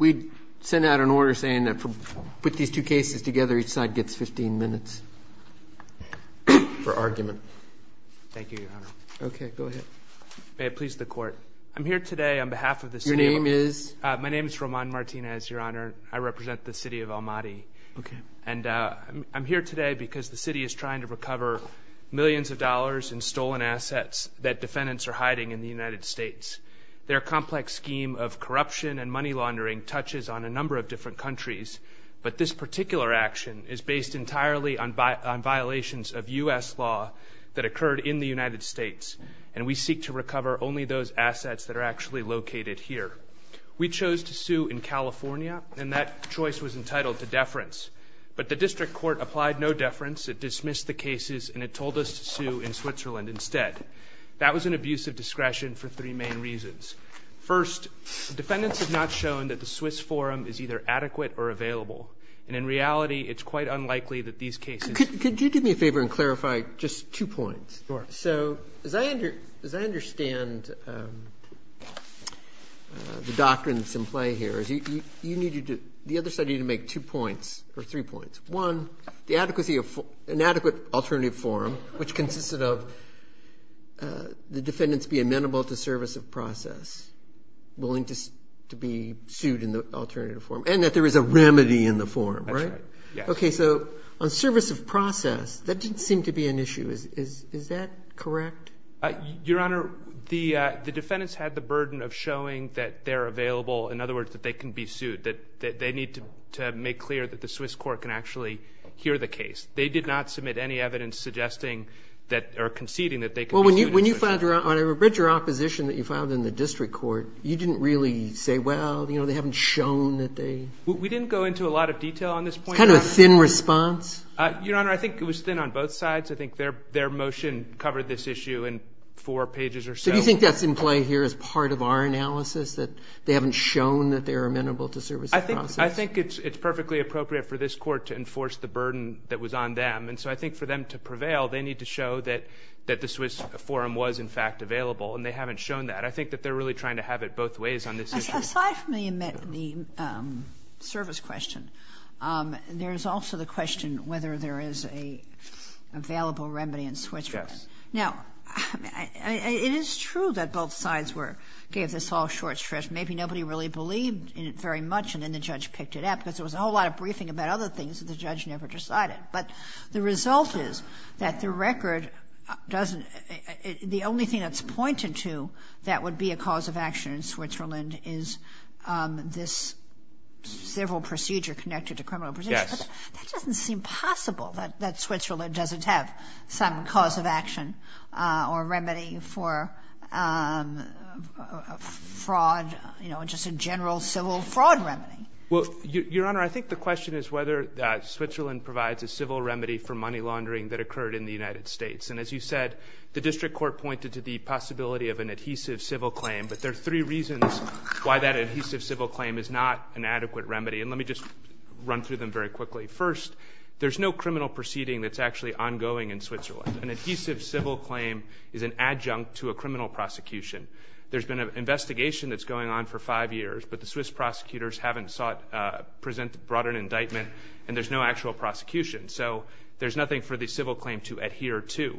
May I please the court? I'm here today on behalf of the city of Almaty. Your name is? My name is Roman Martinez, Your Honor. I represent the city of Almaty. Okay. And I'm here today because the city is trying to recover millions of dollars in stolen assets that defendants are hiding in the United States. Their complex scheme of corruption and money laundering touches on a number of different countries, but this particular action is based entirely on violations of U.S. law that occurred in the United States, and we seek to recover only those assets that are actually located here. We chose to sue in California, and that choice was entitled to deference, but the district court applied no deference. It dismissed the cases, and it told us to sue in Switzerland instead. That was an abuse of discretion for three main reasons. First, defendants have not shown that the Swiss forum is either adequate or available, and in reality, it's quite unlikely that these cases Could you do me a favor and clarify just two points? Sure. So as I understand the doctrines in play here, you need to do the other side, you need to make two points or three points. One, an adequate alternative forum, which consisted of the defendants being amenable to service of process, willing to be sued in the alternative forum, and that there is a remedy in the forum, right? That's right, yes. Okay, so on service of process, that didn't seem to be an issue. Is that correct? Your Honor, the defendants had the burden of showing that they're available, in other words, that they can be sued, that they need to make clear that the Swiss court can actually hear the case. They did not submit any evidence suggesting that or conceding that they can be sued in Switzerland. Well, when you filed your opposition that you filed in the district court, you didn't really say, well, you know, they haven't shown that they We didn't go into a lot of detail on this point. It's kind of a thin response? Your Honor, I think it was thin on both sides. I think their motion covered this issue in four pages or so. Do you think that's in play here as part of our analysis, that they haven't shown that they're amenable to service of process? I think it's perfectly appropriate for this court to enforce the burden that was on them. And so I think for them to prevail, they need to show that the Swiss forum was, in fact, available. And they haven't shown that. I think that they're really trying to have it both ways on this issue. Aside from the service question, there is also the question whether there is an available remedy in Switzerland. Yes. Now, it is true that both sides were, gave this all short shrift. Maybe nobody really believed in it very much, and then the judge picked it up, because there was a whole lot of briefing about other things that the judge never decided. But the result is that the record doesn't the only thing that's pointed to that would be a cause of action in Switzerland is this civil procedure connected to criminal That doesn't seem possible, that Switzerland doesn't have some cause of action or remedy for fraud, just a general civil fraud remedy. Well, Your Honor, I think the question is whether Switzerland provides a civil remedy for money laundering that occurred in the United States. And as you said, the district court pointed to the possibility of an adhesive civil claim. But there are three reasons why that adhesive civil claim is not an adequate remedy. And let me just run through them very quickly. First, there's no criminal proceeding that's actually ongoing in Switzerland. An adhesive civil claim is an adjunct to a criminal prosecution. There's been an investigation that's going on for five years, but the Swiss prosecutors haven't sought, brought an indictment, and there's no actual prosecution. So there's nothing for the civil claim to adhere to.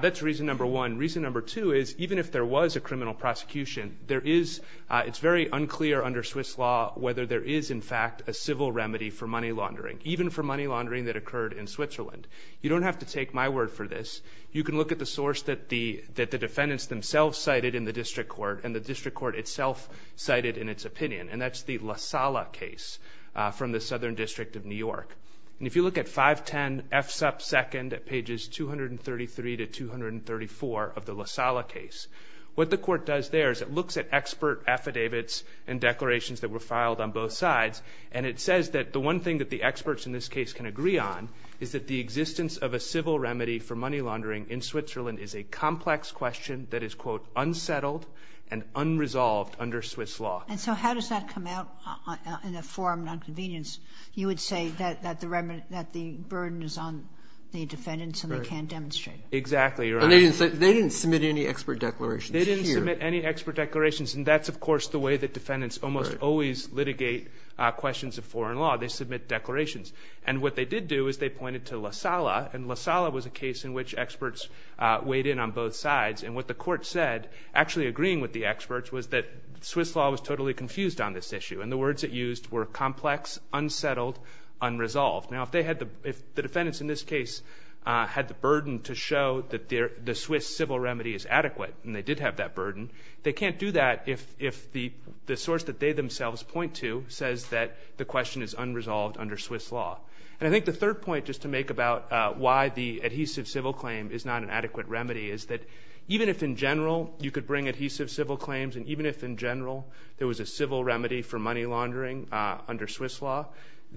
That's reason number one. Reason number two is, even if there was a criminal prosecution, there is, it's very unclear under Swiss law whether there is, in fact, a civil remedy for money laundering, even for money laundering that occurred in Switzerland. You don't have to take my word for this. You can look at the source that the defendants themselves cited in the district court and the district court itself cited in its opinion, and that's the La Sala case from the Southern District of New York. And if you look at 510 F. Supp. 2nd at pages 233 to 234 of the La Sala case, what the court does there is it looks at expert affidavits and declarations that were filed on both sides, and it says that the one thing that the experts in this case can agree on is that the existence of a civil remedy for money laundering in Switzerland is a complex question that is, quote, unsettled and unresolved under Swiss law. And so how does that come out in a form of nonconvenience? You would say that the burden is on the defendants and they can't demonstrate. Exactly, Your Honor. They didn't submit any expert declarations here. They didn't submit any expert declarations, and that's, of course, the way that defendants almost always litigate questions of foreign law. They submit declarations. And what they did do is they pointed to La Sala, and La Sala was a case in which experts weighed in on both sides. And what the court said, actually agreeing with the experts, was that Swiss law was totally confused on this issue, and the words it used were complex, unsettled, unresolved. Now, if the defendants in this case had the burden to show that the Swiss civil remedy is adequate and they did have that burden, they can't do that if the source that they themselves point to says that the question is unresolved under Swiss law. And I think the third point just to make about why the adhesive civil claim is not an adequate remedy is that even if in general you could bring adhesive civil claims and even if in general there was a civil remedy for money laundering under Swiss law,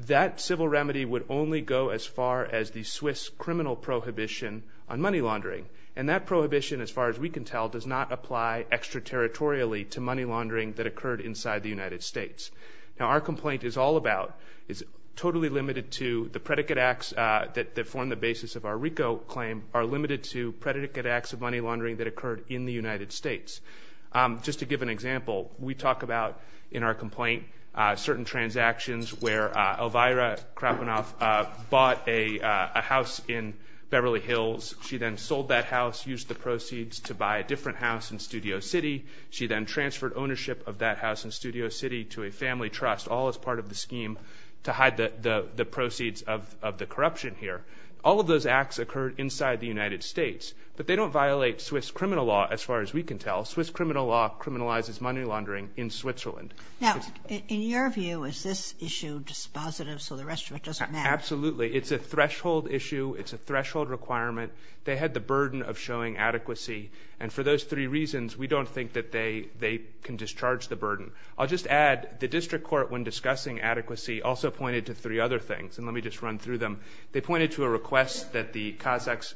that civil remedy would only go as far as the Swiss criminal prohibition on money laundering. And that prohibition, as far as we can tell, does not apply extraterritorially to money laundering that occurred inside the United States. Now, our complaint is all about, it's totally limited to the predicate acts that form the basis of our RICO claim are limited to predicate acts of money laundering that occurred in the United States. Just to give an example, we talk about in our complaint certain transactions where Elvira Krapenow bought a house in Beverly Hills. She then sold that house, used the proceeds to buy a different house in Studio City. She then transferred ownership of that house in Studio City to a family trust, all as part of the scheme to hide the proceeds of the corruption here. All of those acts occurred inside the United States. But they don't violate Swiss criminal law, as far as we can tell. Swiss criminal law criminalizes money laundering in Switzerland. Now, in your view, is this issue dispositive so the rest of it doesn't matter? Absolutely. It's a threshold issue. It's a threshold requirement. They had the burden of showing adequacy. And for those three reasons, we don't think that they can discharge the burden. I'll just add the district court, when discussing adequacy, also pointed to three other things. And let me just run through them. They pointed to a request that the Kazakh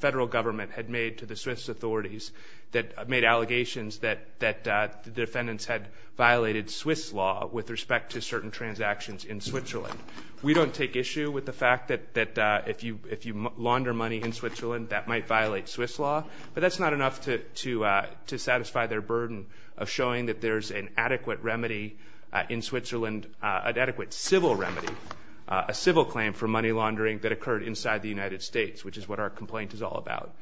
federal government had made to the Swiss authorities that made allegations that the defendants had violated Swiss law with respect to certain transactions in Switzerland. We don't take issue with the fact that if you launder money in Switzerland, that might violate Swiss law. But that's not enough to satisfy their burden of showing that there's an adequate remedy in Switzerland, an adequate civil remedy, a civil claim for money laundering that occurred inside the United States, which is what our complaint is all about.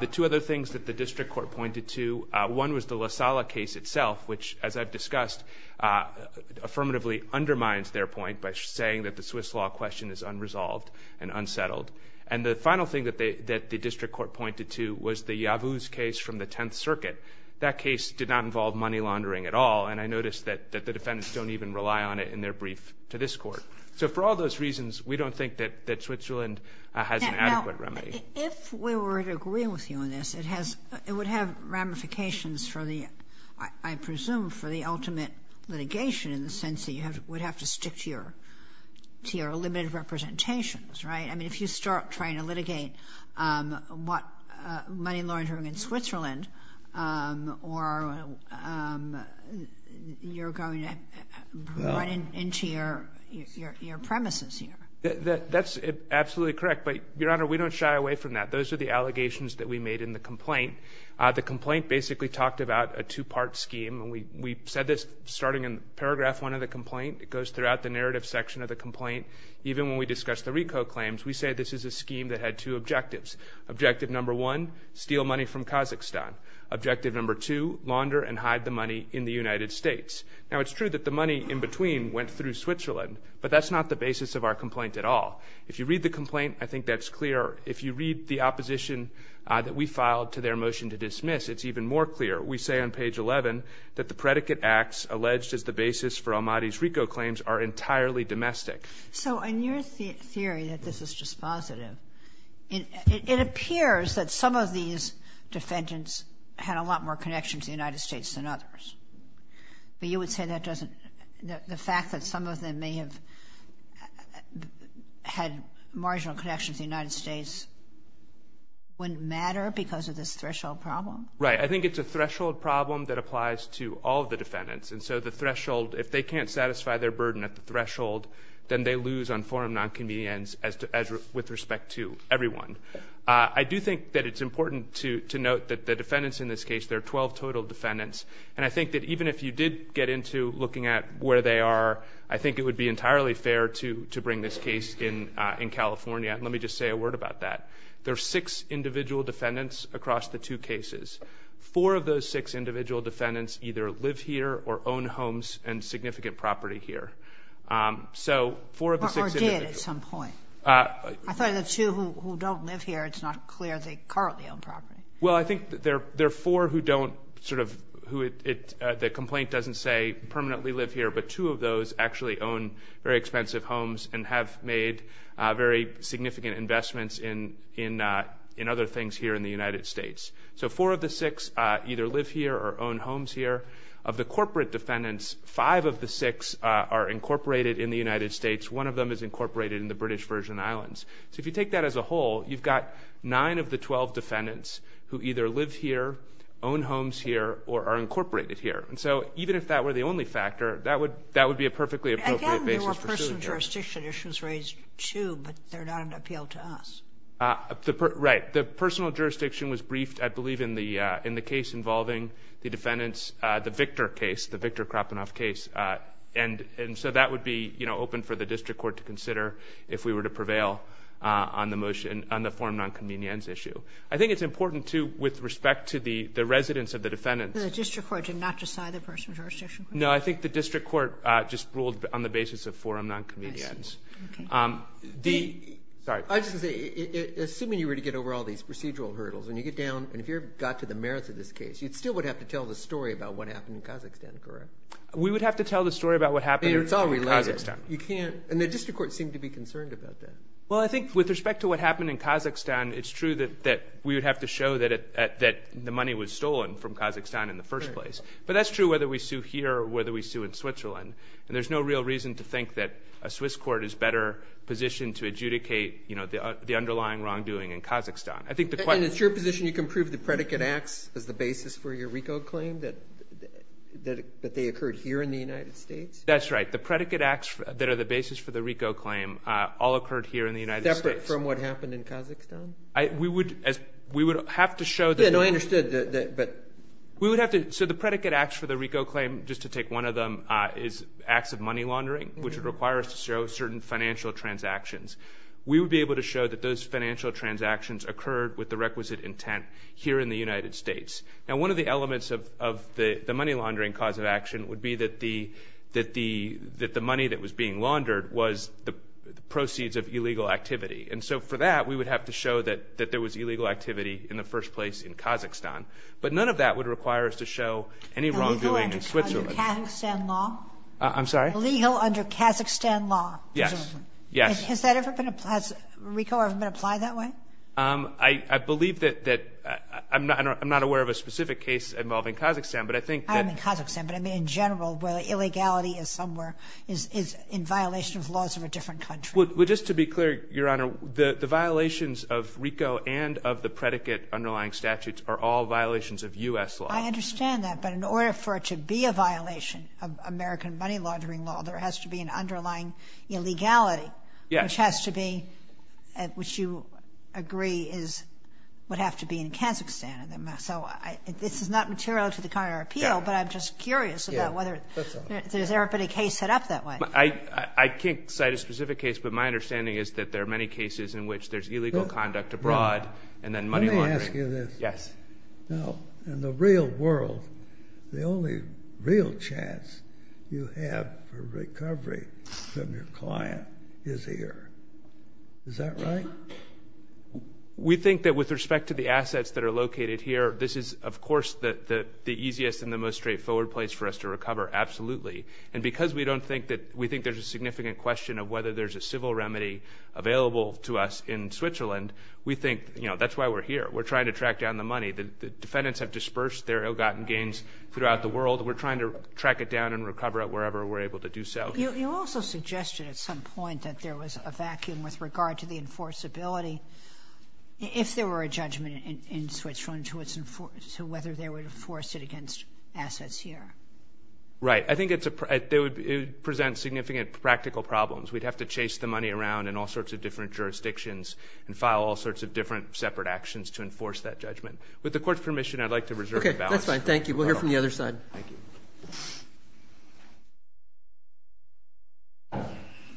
The two other things that the district court pointed to, one was the La Sala case itself, which, as I've discussed, affirmatively undermines their point by saying that the Swiss law question is unresolved and unsettled. And the final thing that the district court pointed to was the Yavuz case from the Tenth Circuit. That case did not involve money laundering at all, and I noticed that the defendants don't even rely on it in their brief to this court. So for all those reasons, we don't think that Switzerland has an adequate remedy. If we were to agree with you on this, it would have ramifications, I presume, for the ultimate litigation in the sense that you would have to stick to your limited representations, right? I mean, if you start trying to litigate money laundering in Switzerland, you're going to run into your premises here. That's absolutely correct, but, Your Honor, we don't shy away from that. Those are the allegations that we made in the complaint. The complaint basically talked about a two-part scheme, and we said this starting in Paragraph 1 of the complaint. It goes throughout the narrative section of the complaint. Even when we discuss the RICO claims, we say this is a scheme that had two objectives. Objective number one, steal money from Kazakhstan. Objective number two, launder and hide the money in the United States. Now, it's true that the money in between went through Switzerland, but that's not the basis of our complaint at all. If you read the complaint, I think that's clear. If you read the opposition that we filed to their motion to dismiss, it's even more clear. We say on Page 11 that the predicate acts alleged as the basis for Ahmadi's RICO claims are entirely domestic. So in your theory that this is dispositive, it appears that some of these defendants had a lot more connection to the United States than others. But you would say that doesn't – the fact that some of them may have had marginal connections to the United States wouldn't matter because of this threshold problem? Right. I think it's a threshold problem that applies to all of the defendants. And so the threshold – if they can't satisfy their burden at the threshold, then they lose on form of nonconvenience with respect to everyone. I do think that it's important to note that the defendants in this case, there are 12 total defendants, and I think that even if you did get into looking at where they are, I think it would be entirely fair to bring this case in California. And let me just say a word about that. There are six individual defendants across the two cases. Four of those six individual defendants either live here or own homes and significant property here. So four of the six individuals – Or did at some point. I thought of the two who don't live here. It's not clear they currently own property. Well, I think there are four who don't sort of – the complaint doesn't say permanently live here, but two of those actually own very expensive homes and have made very significant investments in other things here in the United States. So four of the six either live here or own homes here. Of the corporate defendants, five of the six are incorporated in the United States. One of them is incorporated in the British Virgin Islands. So if you take that as a whole, you've got nine of the 12 defendants who either live here, own homes here, or are incorporated here. And so even if that were the only factor, that would be a perfectly appropriate basis for suing here. Again, there were personal jurisdiction issues raised too, but they're not an appeal to us. Right. The personal jurisdiction was briefed, I believe, in the case involving the defendants, the Victor case, the Victor Krapenow case. And so that would be open for the district court to consider if we were to prevail on the motion on the forum nonconvenience issue. I think it's important too with respect to the residents of the defendants. The district court did not decide the personal jurisdiction? No, I think the district court just ruled on the basis of forum nonconvenience. I see. Okay. Sorry. I was just going to say, assuming you were to get over all these procedural hurdles, and you get down and if you got to the merits of this case, you still would have to tell the story about what happened in Kazakhstan, correct? We would have to tell the story about what happened in Kazakhstan. And the district court seemed to be concerned about that. Well, I think with respect to what happened in Kazakhstan, it's true that we would have to show that the money was stolen from Kazakhstan in the first place. But that's true whether we sue here or whether we sue in Switzerland. And there's no real reason to think that a Swiss court is better positioned to adjudicate, you know, the underlying wrongdoing in Kazakhstan. And it's your position you can prove the predicate acts as the basis for your RICO claim, that they occurred here in the United States? That's right. The predicate acts that are the basis for the RICO claim all occurred here in the United States. Separate from what happened in Kazakhstan? We would have to show that. Yeah, no, I understood, but. We would have to. So the predicate acts for the RICO claim, just to take one of them, is acts of money laundering, which would require us to show certain financial transactions. We would be able to show that those financial transactions occurred with the requisite intent here in the United States. Now, one of the elements of the money laundering cause of action would be that the money that was being laundered was the proceeds of illegal activity. And so for that, we would have to show that there was illegal activity in the first place in Kazakhstan. But none of that would require us to show any wrongdoing in Switzerland. Illegal under Kazakhstan law? I'm sorry? Illegal under Kazakhstan law? Yes. Yes. Has RICO ever been applied that way? I believe that I'm not aware of a specific case involving Kazakhstan, but I think that. I'm in Kazakhstan, but I mean in general, where the illegality is somewhere, is in violation of laws of a different country. Well, just to be clear, Your Honor, the violations of RICO and of the predicate underlying statutes are all violations of U.S. law. I understand that, but in order for it to be a violation of American money laundering law, there has to be an underlying illegality. Yes. Which has to be, which you agree is, would have to be in Kazakhstan. So this is not material to the current appeal, but I'm just curious about whether there's ever been a case set up that way. I can't cite a specific case, but my understanding is that there are many cases in which there's illegal conduct abroad and then money laundering. Let me ask you this. Yes. Now, in the real world, the only real chance you have for recovery from your client is here. Is that right? We think that with respect to the assets that are located here, this is, of course, the easiest and the most straightforward place for us to recover, absolutely. And because we don't think that, we think there's a significant question of whether there's a civil remedy available to us in Switzerland, we think, you know, that's why we're here. We're trying to track down the money. The defendants have dispersed their ill-gotten gains throughout the world. We're trying to track it down and recover it wherever we're able to do so. You also suggested at some point that there was a vacuum with regard to the enforceability. If there were a judgment in Switzerland to whether they would enforce it against assets here. Right. I think it presents significant practical problems. We'd have to chase the money around in all sorts of different jurisdictions and file all sorts of different separate actions to enforce that judgment. With the court's permission, I'd like to reserve the balance. Okay. That's fine. Thank you. We'll hear from the other side. Thank you.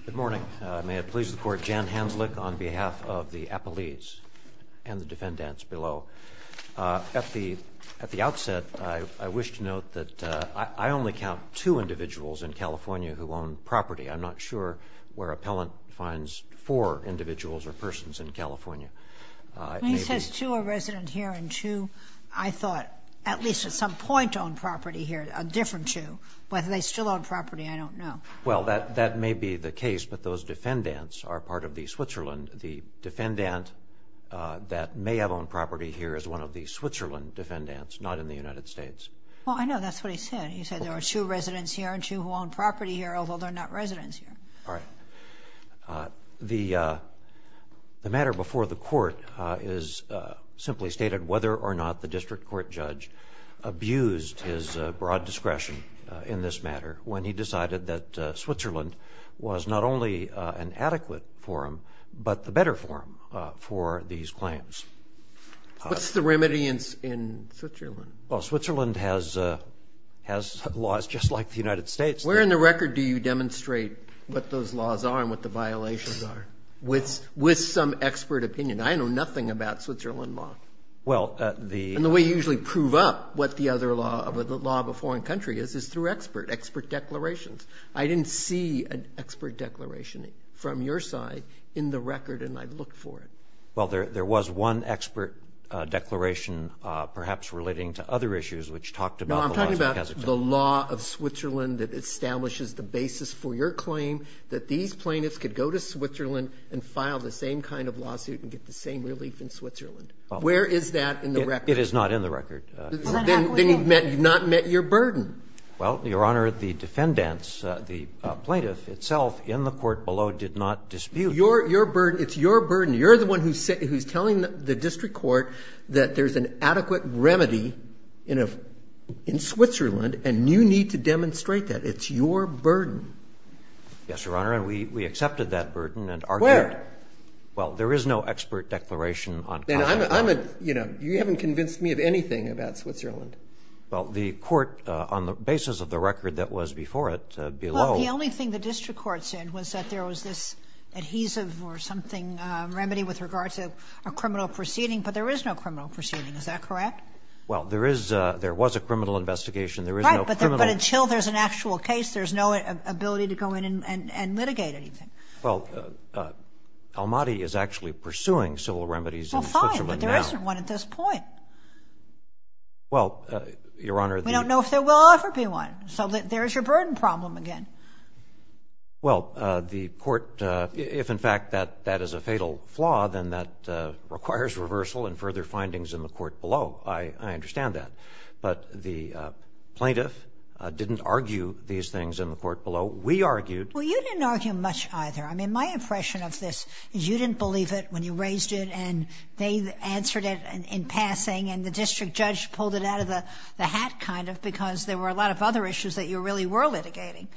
Good morning. May it please the court. Jan Hanslick on behalf of the appellees and the defendants below. At the outset, I wish to note that I only count two individuals in California who own property. I'm not sure where appellant finds four individuals or persons in California. When he says two are resident here and two, I thought at least at some point owned property here, a different two. Whether they still own property, I don't know. Well, that may be the case, but those defendants are part of the Switzerland. The defendant that may have owned property here is one of the Switzerland defendants, not in the United States. Well, I know. That's what he said. He said there are two residents here and two who own property here, although they're not residents here. All right. The matter before the court is simply stated whether or not the district court judge abused his broad discretion in this matter when he decided that Switzerland was not only an adequate forum but the better forum for these claims. What's the remedy in Switzerland? Well, Switzerland has laws just like the United States. Where in the record do you demonstrate what those laws are and what the violations are with some expert opinion? I know nothing about Switzerland law. Well, the ‑‑ And the way you usually prove up what the law of a foreign country is is through expert declarations. I didn't see an expert declaration from your side in the record, and I've looked for it. Well, there was one expert declaration, perhaps relating to other issues, which talked about the laws of Kazakhstan. No, I'm talking about the law of Switzerland that establishes the basis for your claim that these plaintiffs could go to Switzerland and file the same kind of lawsuit and get the same relief in Switzerland. Where is that in the record? It is not in the record. Then you've not met your burden. Well, Your Honor, the defendants, the plaintiff itself in the court below did not dispute. Your burden. It's your burden. You're the one who's telling the district court that there's an adequate remedy in Switzerland, and you need to demonstrate that. It's your burden. Yes, Your Honor, and we accepted that burden and argued. Where? Well, there is no expert declaration on Kazakhstan. And I'm a ‑‑ you know, you haven't convinced me of anything about Switzerland. Well, the court, on the basis of the record that was before it, below ‑‑ with regard to a criminal proceeding, but there is no criminal proceeding. Is that correct? Well, there is ‑‑ there was a criminal investigation. There is no criminal ‑‑ Right, but until there's an actual case, there's no ability to go in and litigate anything. Well, Almaty is actually pursuing civil remedies in Switzerland now. Well, fine, but there isn't one at this point. Well, Your Honor, the ‑‑ We don't know if there will ever be one. So there's your burden problem again. Well, the court, if in fact that is a fatal flaw, then that requires reversal and further findings in the court below. I understand that. But the plaintiff didn't argue these things in the court below. We argued. Well, you didn't argue much either. I mean, my impression of this is you didn't believe it when you raised it, and they answered it in passing, and the district judge pulled it out of the hat kind of because there were a lot of other issues that you really were litigating.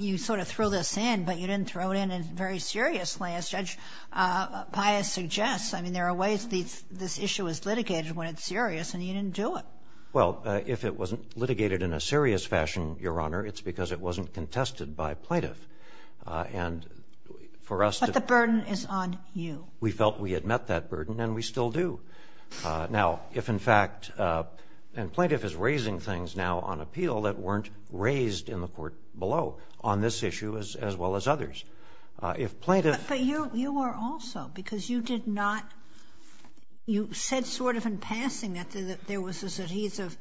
You sort of threw this in, but you didn't throw it in very seriously, as Judge Pius suggests. I mean, there are ways this issue is litigated when it's serious, and you didn't do it. Well, if it wasn't litigated in a serious fashion, Your Honor, it's because it wasn't contested by plaintiff. And for us to ‑‑ But the burden is on you. We felt we had met that burden, and we still do. Now, if in fact ‑‑ and plaintiff is raising things now on appeal that weren't raised in the court below on this issue as well as others. If plaintiff ‑‑ But you were also, because you did not ‑‑ you said sort of in passing that there was this adhesive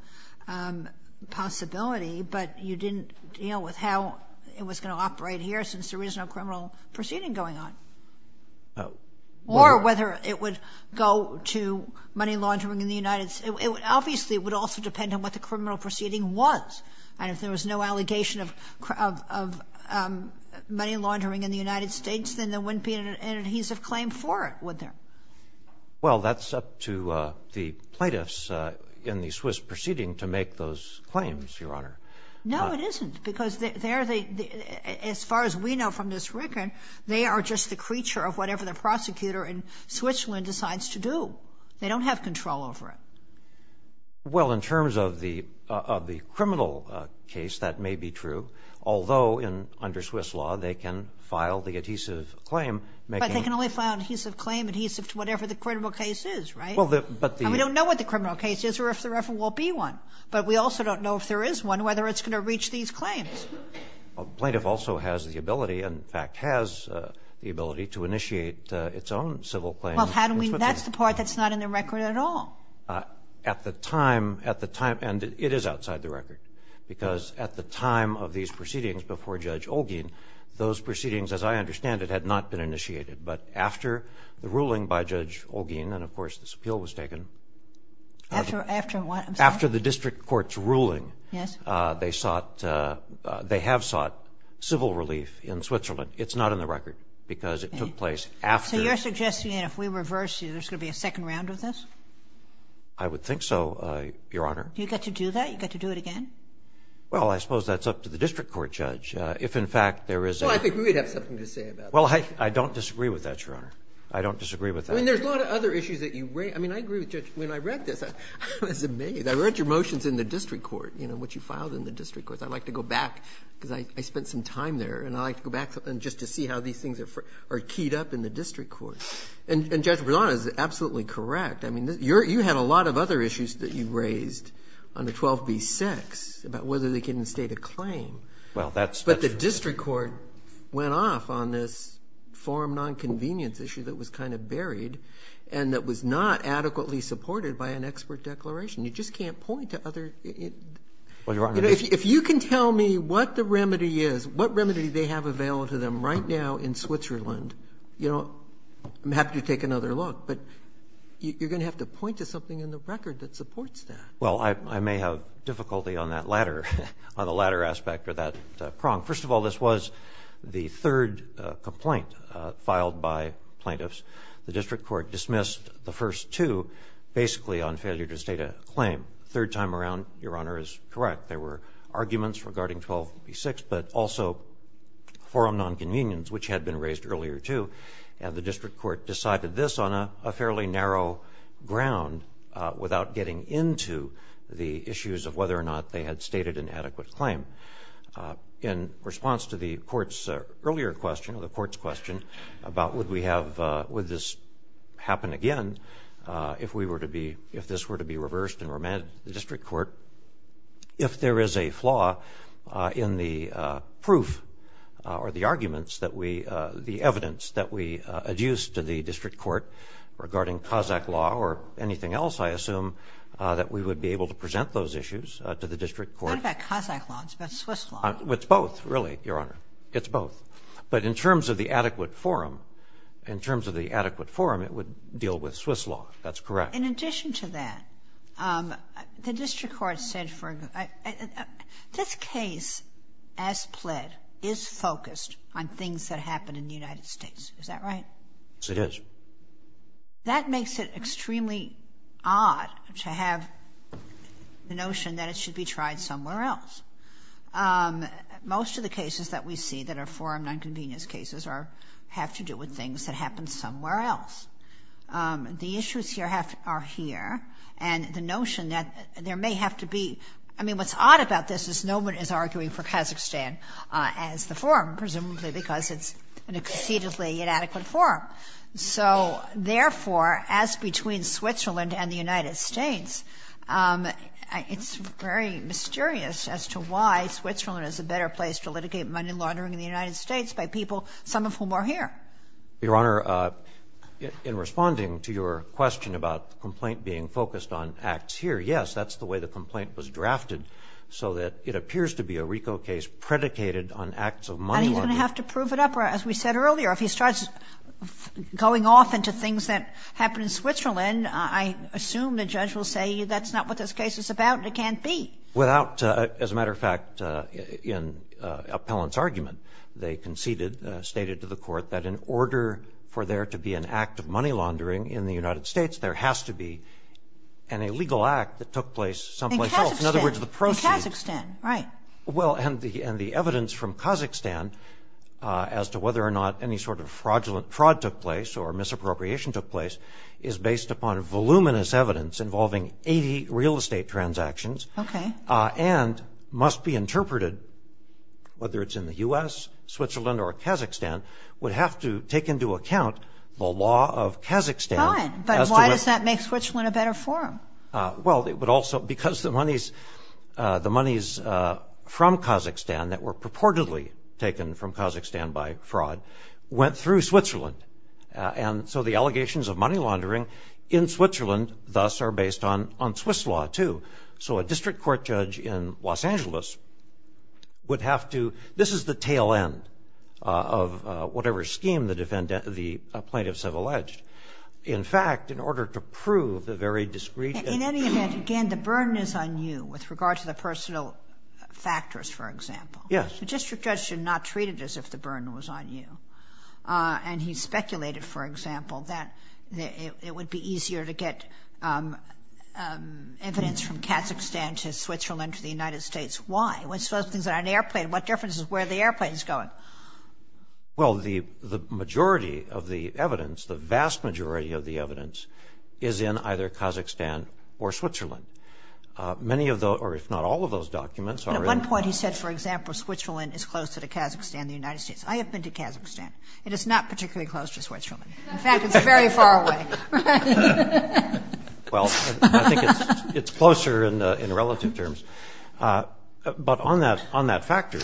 possibility, but you didn't deal with how it was going to operate here since there is no criminal proceeding going on. Or whether it would go to money laundering in the United States. Obviously, it would also depend on what the criminal proceeding was. And if there was no allegation of money laundering in the United States, then there wouldn't be an adhesive claim for it, would there? Well, that's up to the plaintiffs in the Swiss proceeding to make those claims, Your Honor. No, it isn't. Because as far as we know from this record, they are just the creature of whatever the prosecutor in Switzerland decides to do. They don't have control over it. Well, in terms of the criminal case, that may be true. Although under Swiss law, they can file the adhesive claim. But they can only file an adhesive claim, adhesive to whatever the criminal case is, right? Well, but the ‑‑ And we don't know what the criminal case is or if there ever will be one. But we also don't know if there is one, whether it's going to reach these claims. Well, the plaintiff also has the ability, in fact, has the ability to initiate its own civil claim in Switzerland. Well, how do we ‑‑ that's the part that's not in the record at all. At the time, at the time, and it is outside the record. Because at the time of these proceedings before Judge Olguin, those proceedings, as I understand it, had not been initiated. But after the ruling by Judge Olguin, and, of course, this appeal was taken ‑‑ After what? After the district court's ruling. Yes. They sought ‑‑ they have sought civil relief in Switzerland. It's not in the record because it took place after. So you're suggesting that if we reverse it, there's going to be a second round of this? I would think so, Your Honor. Do you get to do that? You get to do it again? Well, I suppose that's up to the district court judge. If, in fact, there is a ‑‑ Well, I think we would have something to say about that. Well, I don't disagree with that, Your Honor. I don't disagree with that. I mean, there's a lot of other issues that you ‑‑ I mean, I agree with Judge ‑‑ when I read this, I was amazed. I read your motions in the district court, you know, what you filed in the district court. I'd like to go back because I spent some time there, and I'd like to go back just to see how these things are keyed up in the district court. And Judge Berlant is absolutely correct. I mean, you had a lot of other issues that you raised on the 12b-6 about whether they can instate a claim. Well, that's ‑‑ But the district court went off on this forum nonconvenience issue that was kind of inadequately supported by an expert declaration. You just can't point to other ‑‑ Well, Your Honor ‑‑ You know, if you can tell me what the remedy is, what remedy they have available to them right now in Switzerland, you know, I'm happy to take another look. But you're going to have to point to something in the record that supports that. Well, I may have difficulty on that latter aspect or that prong. First of all, this was the third complaint filed by plaintiffs. The district court dismissed the first two basically on failure to state a claim. Third time around, Your Honor, is correct. There were arguments regarding 12b-6, but also forum nonconvenience, which had been raised earlier, too. And the district court decided this on a fairly narrow ground without getting into the issues of whether or not they had stated an adequate claim. In response to the court's earlier question, or the court's question, about would we have ‑‑ would this happen again if we were to be ‑‑ if this were to be reversed and remanded to the district court, if there is a flaw in the proof or the arguments that we ‑‑ the evidence that we adduce to the district court regarding Kazakh law or anything else I assume that we would be able to present those issues to the district court. It's not about Kazakh law. It's about Swiss law. It's both, really, Your Honor. It's both. But in terms of the adequate forum, in terms of the adequate forum, it would deal with Swiss law. That's correct. In addition to that, the district court said for ‑‑ this case as pled is focused on things that happen in the United States. Is that right? Yes, it is. That makes it extremely odd to have the notion that it should be tried somewhere else. Most of the cases that we see that are forum nonconvenience cases have to do with things that happen somewhere else. The issues here are here, and the notion that there may have to be ‑‑ I mean, what's odd about this is no one is arguing for Kazakhstan as the forum, presumably because it's an exceedingly inadequate forum. So, therefore, as between Switzerland and the United States, it's very mysterious as to why Switzerland is a better place to litigate money laundering in the United States by people, some of whom are here. Your Honor, in responding to your question about the complaint being focused on acts here, yes, that's the way the complaint was drafted, so that it appears to be a RICO case predicated on acts of money laundering. And he's going to have to prove it up, as we said earlier. If he starts going off into things that happen in Switzerland, I assume the judge will say that's not what this case is about and it can't be. Without ‑‑ as a matter of fact, in Appellant's argument, they conceded, stated to the Court, that in order for there to be an act of money laundering in the United States, there has to be an illegal act that took place someplace else. In Kazakhstan. In other words, the proceeds ‑‑ In Kazakhstan, right. Well, and the evidence from Kazakhstan as to whether or not any sort of fraudulent fraud took place or misappropriation took place is based upon voluminous evidence involving 80 real estate transactions. Okay. And must be interpreted, whether it's in the U.S., Switzerland, or Kazakhstan, would have to take into account the law of Kazakhstan. Fine. But why does that make Switzerland a better forum? Well, but also because the monies from Kazakhstan that were purportedly taken from Kazakhstan by fraud went through Switzerland. And so the allegations of money laundering in Switzerland, thus, are based on Swiss law, too. So a district court judge in Los Angeles would have to ‑‑ this is the tail end of whatever scheme the plaintiffs have alleged. In fact, in order to prove the very discreet ‑‑ In any event, again, the burden is on you with regard to the personal factors, for example. Yes. The district judge should not treat it as if the burden was on you. And he speculated, for example, that it would be easier to get evidence from Kazakhstan to Switzerland to the United States. Why? It's those things on an airplane. What difference is where the airplane is going? Well, the majority of the evidence, the vast majority of the evidence, is in either Kazakhstan or Switzerland. Many of those, or if not all of those documents, are in ‑‑ But at one point he said, for example, Switzerland is closer to Kazakhstan than the United States. I have been to Kazakhstan, and it's not particularly close to Switzerland. In fact, it's very far away. Well, I think it's closer in relative terms. But on that factor,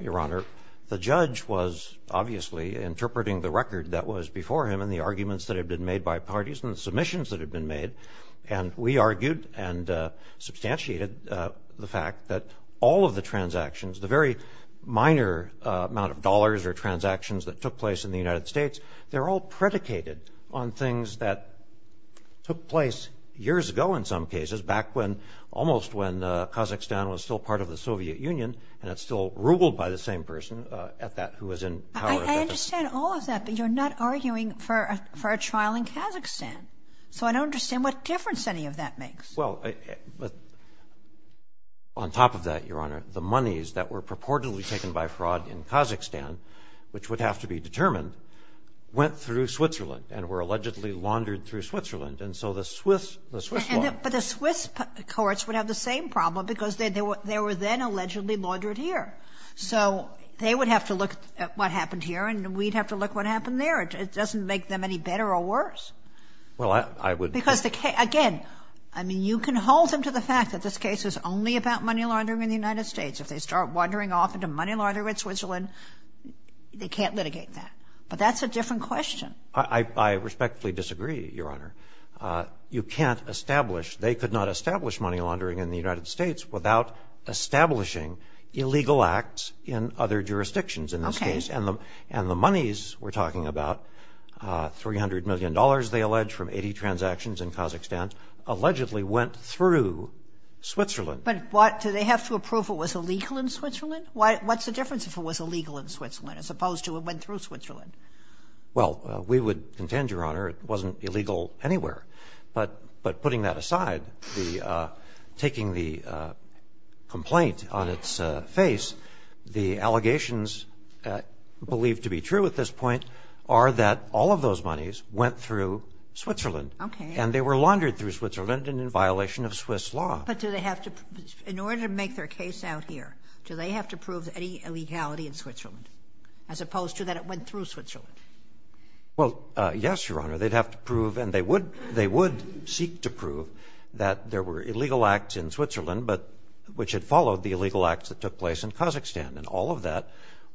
Your Honor, the judge was obviously interpreting the record that was before him and the arguments that had been made by parties and the submissions that had been made. And we argued and substantiated the fact that all of the transactions, the very minor amount of dollars or transactions that took place in the United States, they're all predicated on things that took place years ago in some cases, back when almost when Kazakhstan was still part of the Soviet Union and it's still ruled by the same person at that who was in power. I understand all of that, but you're not arguing for a trial in Kazakhstan. So I don't understand what difference any of that makes. Well, on top of that, Your Honor, the monies that were purportedly taken by fraud in Kazakhstan, which would have to be determined, went through Switzerland and were allegedly laundered through Switzerland. And so the Swiss, the Swiss law. But the Swiss courts would have the same problem because they were then allegedly laundered here. So they would have to look at what happened here, and we'd have to look at what happened there. It doesn't make them any better or worse. Well, I would. Because, again, I mean, you can hold them to the fact that this case is only about money laundering in the United States. If they start wandering off into money laundering in Switzerland, they can't litigate that. But that's a different question. I respectfully disagree, Your Honor. You can't establish, they could not establish money laundering in the United States without establishing illegal acts in other jurisdictions in this case. And the monies we're talking about, $300 million, they allege, from 80 transactions in Kazakhstan, allegedly went through Switzerland. But do they have to approve it was illegal in Switzerland? What's the difference if it was illegal in Switzerland as opposed to it went through Switzerland? Well, we would contend, Your Honor, it wasn't illegal anywhere. But putting that aside, taking the complaint on its face, the allegations believed to be true at this point are that all of those monies went through Switzerland. Okay. And they were laundered through Switzerland and in violation of Swiss law. But do they have to, in order to make their case out here, do they have to prove any illegality in Switzerland as opposed to that it went through Switzerland? Well, yes, Your Honor, they'd have to prove, and they would seek to prove that there were illegal acts in Switzerland which had followed the illegal acts that took place in Kazakhstan. And all of that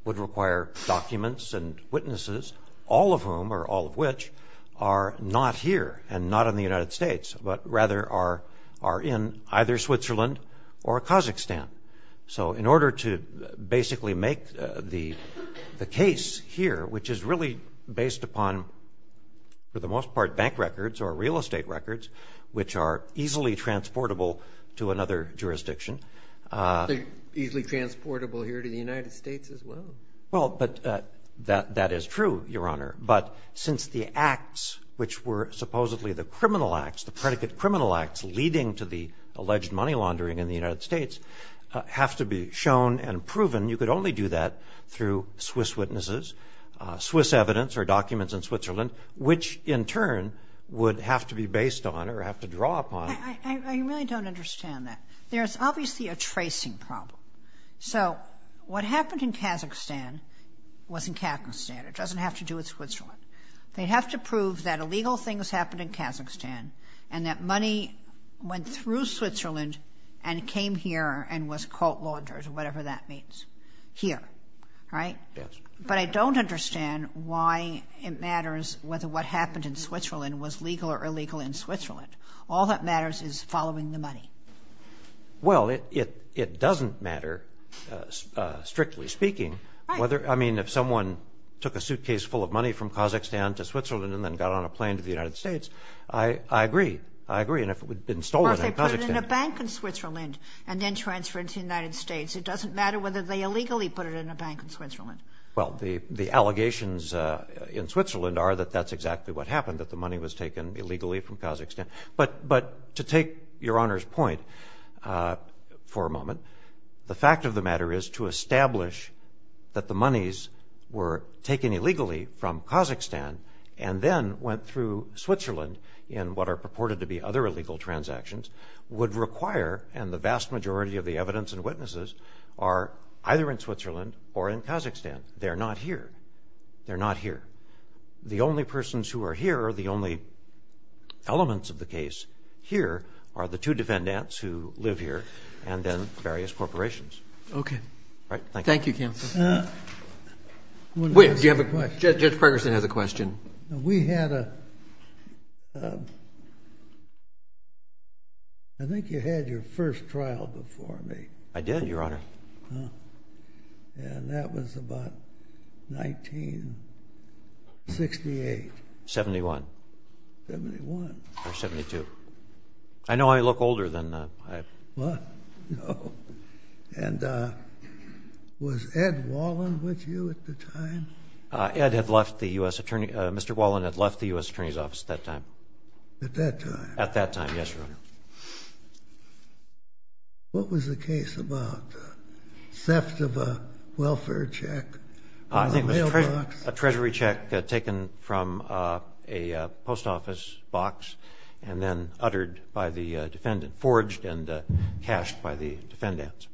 would require documents and witnesses, all of whom or all of which are not here and not in the United States, but rather are in either Switzerland or Kazakhstan. So in order to basically make the case here, which is really based upon, for the most part, bank records or real estate records, which are easily transportable to another jurisdiction. Easily transportable here to the United States as well. Well, but that is true, Your Honor. But since the acts which were supposedly the criminal acts, the predicate criminal acts leading to the alleged money laundering in the United States, have to be shown and proven, you could only do that through Swiss witnesses, Swiss evidence or documents in Switzerland, which in turn would have to be based on or have to draw upon. I really don't understand that. There's obviously a tracing problem. So what happened in Kazakhstan wasn't Kazakhstan. It doesn't have to do with Switzerland. They have to prove that illegal things happened in Kazakhstan and that money went through Switzerland and came here and was caught laundered or whatever that means here. But I don't understand why it matters whether what happened in Switzerland was legal or illegal in Switzerland. All that matters is following the money. Well, it doesn't matter, strictly speaking. Right. I mean, if someone took a suitcase full of money from Kazakhstan to Switzerland and then got on a plane to the United States, I agree. I agree. And if it had been stolen in Kazakhstan. Or if they put it in a bank in Switzerland and then transferred to the United States. It doesn't matter whether they illegally put it in a bank in Switzerland. Well, the allegations in Switzerland are that that's exactly what happened, that the money was taken illegally from Kazakhstan. But to take Your Honor's point for a moment, the fact of the matter is to establish that the monies were taken illegally from Kazakhstan and then went through Switzerland in what are purported to be other illegal transactions would require, and the vast majority of the evidence and witnesses are either in Switzerland or in Kazakhstan. They're not here. They're not here. The only persons who are here are the only elements of the case here are the two defendants who live here and then various corporations. Thank you. Thank you, counsel. Judge Pregerson has a question. We had a – I think you had your first trial before me. I did, Your Honor. And that was about 1968. 71. 71. Or 72. I know I look older than that. What? No. And was Ed Wallin with you at the time? Ed had left the U.S. Attorney – Mr. Wallin had left the U.S. Attorney's Office at that time. At that time? At that time, yes, Your Honor. What was the case about? Theft of a welfare check? I think it was a treasury check taken from a post office box and then uttered by the defendant – forged and cashed by the defendants.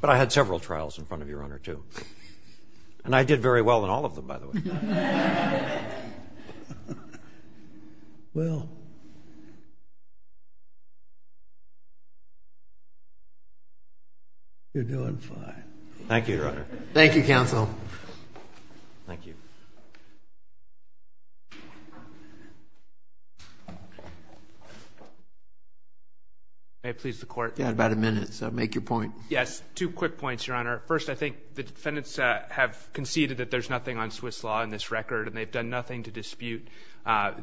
But I had several trials in front of Your Honor, too. And I did very well in all of them, by the way. Well, you're doing fine. Thank you, Your Honor. Thank you, counsel. Thank you. May I please the court? You had about a minute, so make your point. Yes. Two quick points, Your Honor. First, I think the defendants have conceded that there's nothing on Swiss law in this record and they've done nothing to dispute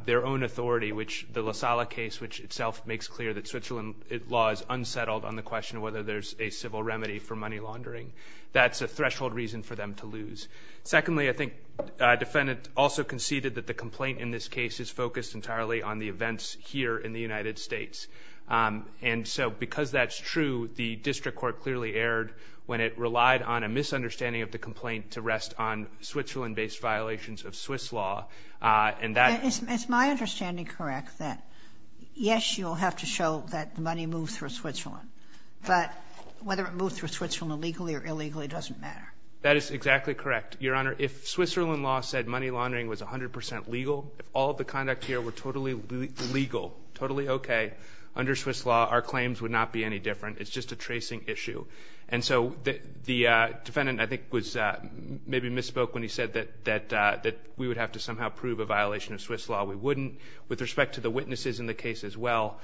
their own authority, which the La Sala case, which itself makes clear that Switzerland law is unsettled on the question of whether there's a civil remedy for money laundering. That's a threshold reason for them to lose. Secondly, I think a defendant also conceded that the complaint in this case is focused entirely on the events here in the United States. And so because that's true, the district court clearly erred when it relied on a misunderstanding of the complaint to rest on Switzerland-based violations of Swiss law. Is my understanding correct that, yes, you'll have to show that money moves through Switzerland, but whether it moves through Switzerland legally or illegally doesn't matter? That is exactly correct, Your Honor. If Switzerland law said money laundering was 100 percent legal, if all of the conduct here were totally legal, totally okay, under Swiss law our claims would not be any different. It's just a tracing issue. And so the defendant, I think, maybe misspoke when he said that we would have to somehow prove a violation of Swiss law. We wouldn't. With respect to the witnesses in the case as well,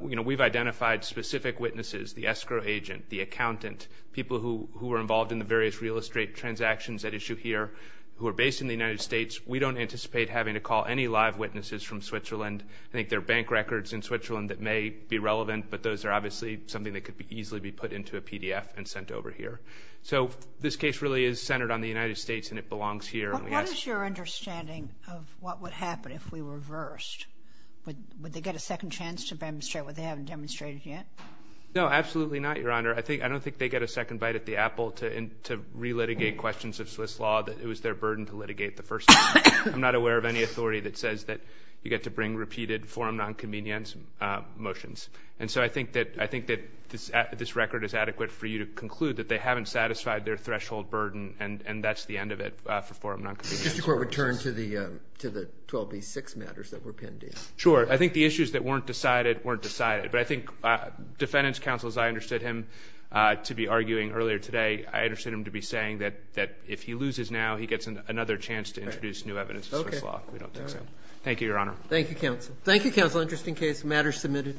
we've identified specific witnesses, the escrow agent, the accountant, people who were involved in the various real estate transactions at issue here who are based in the United States. We don't anticipate having to call any live witnesses from Switzerland. I think there are bank records in Switzerland that may be relevant, but those are obviously something that could easily be put into a PDF and sent over here. So this case really is centered on the United States and it belongs here. What is your understanding of what would happen if we reversed? Would they get a second chance to demonstrate what they haven't demonstrated yet? No, absolutely not, Your Honor. I don't think they get a second bite at the apple to re-litigate questions of Swiss law. It was their burden to litigate the first time. I'm not aware of any authority that says that you get to bring repeated forum nonconvenience motions. And so I think that this record is adequate for you to conclude that they haven't satisfied their threshold burden and that's the end of it for forum nonconvenience motions. Just a quick return to the 12B6 matters that were pinned in. Sure. I think the issues that weren't decided weren't decided. But I think defendants counsel, as I understood him to be arguing earlier today, I understood him to be saying that if he loses now, he gets another chance to introduce new evidence of Swiss law. We don't think so. Thank you, Your Honor. Thank you, counsel. Thank you, counsel, just in case matters submitted.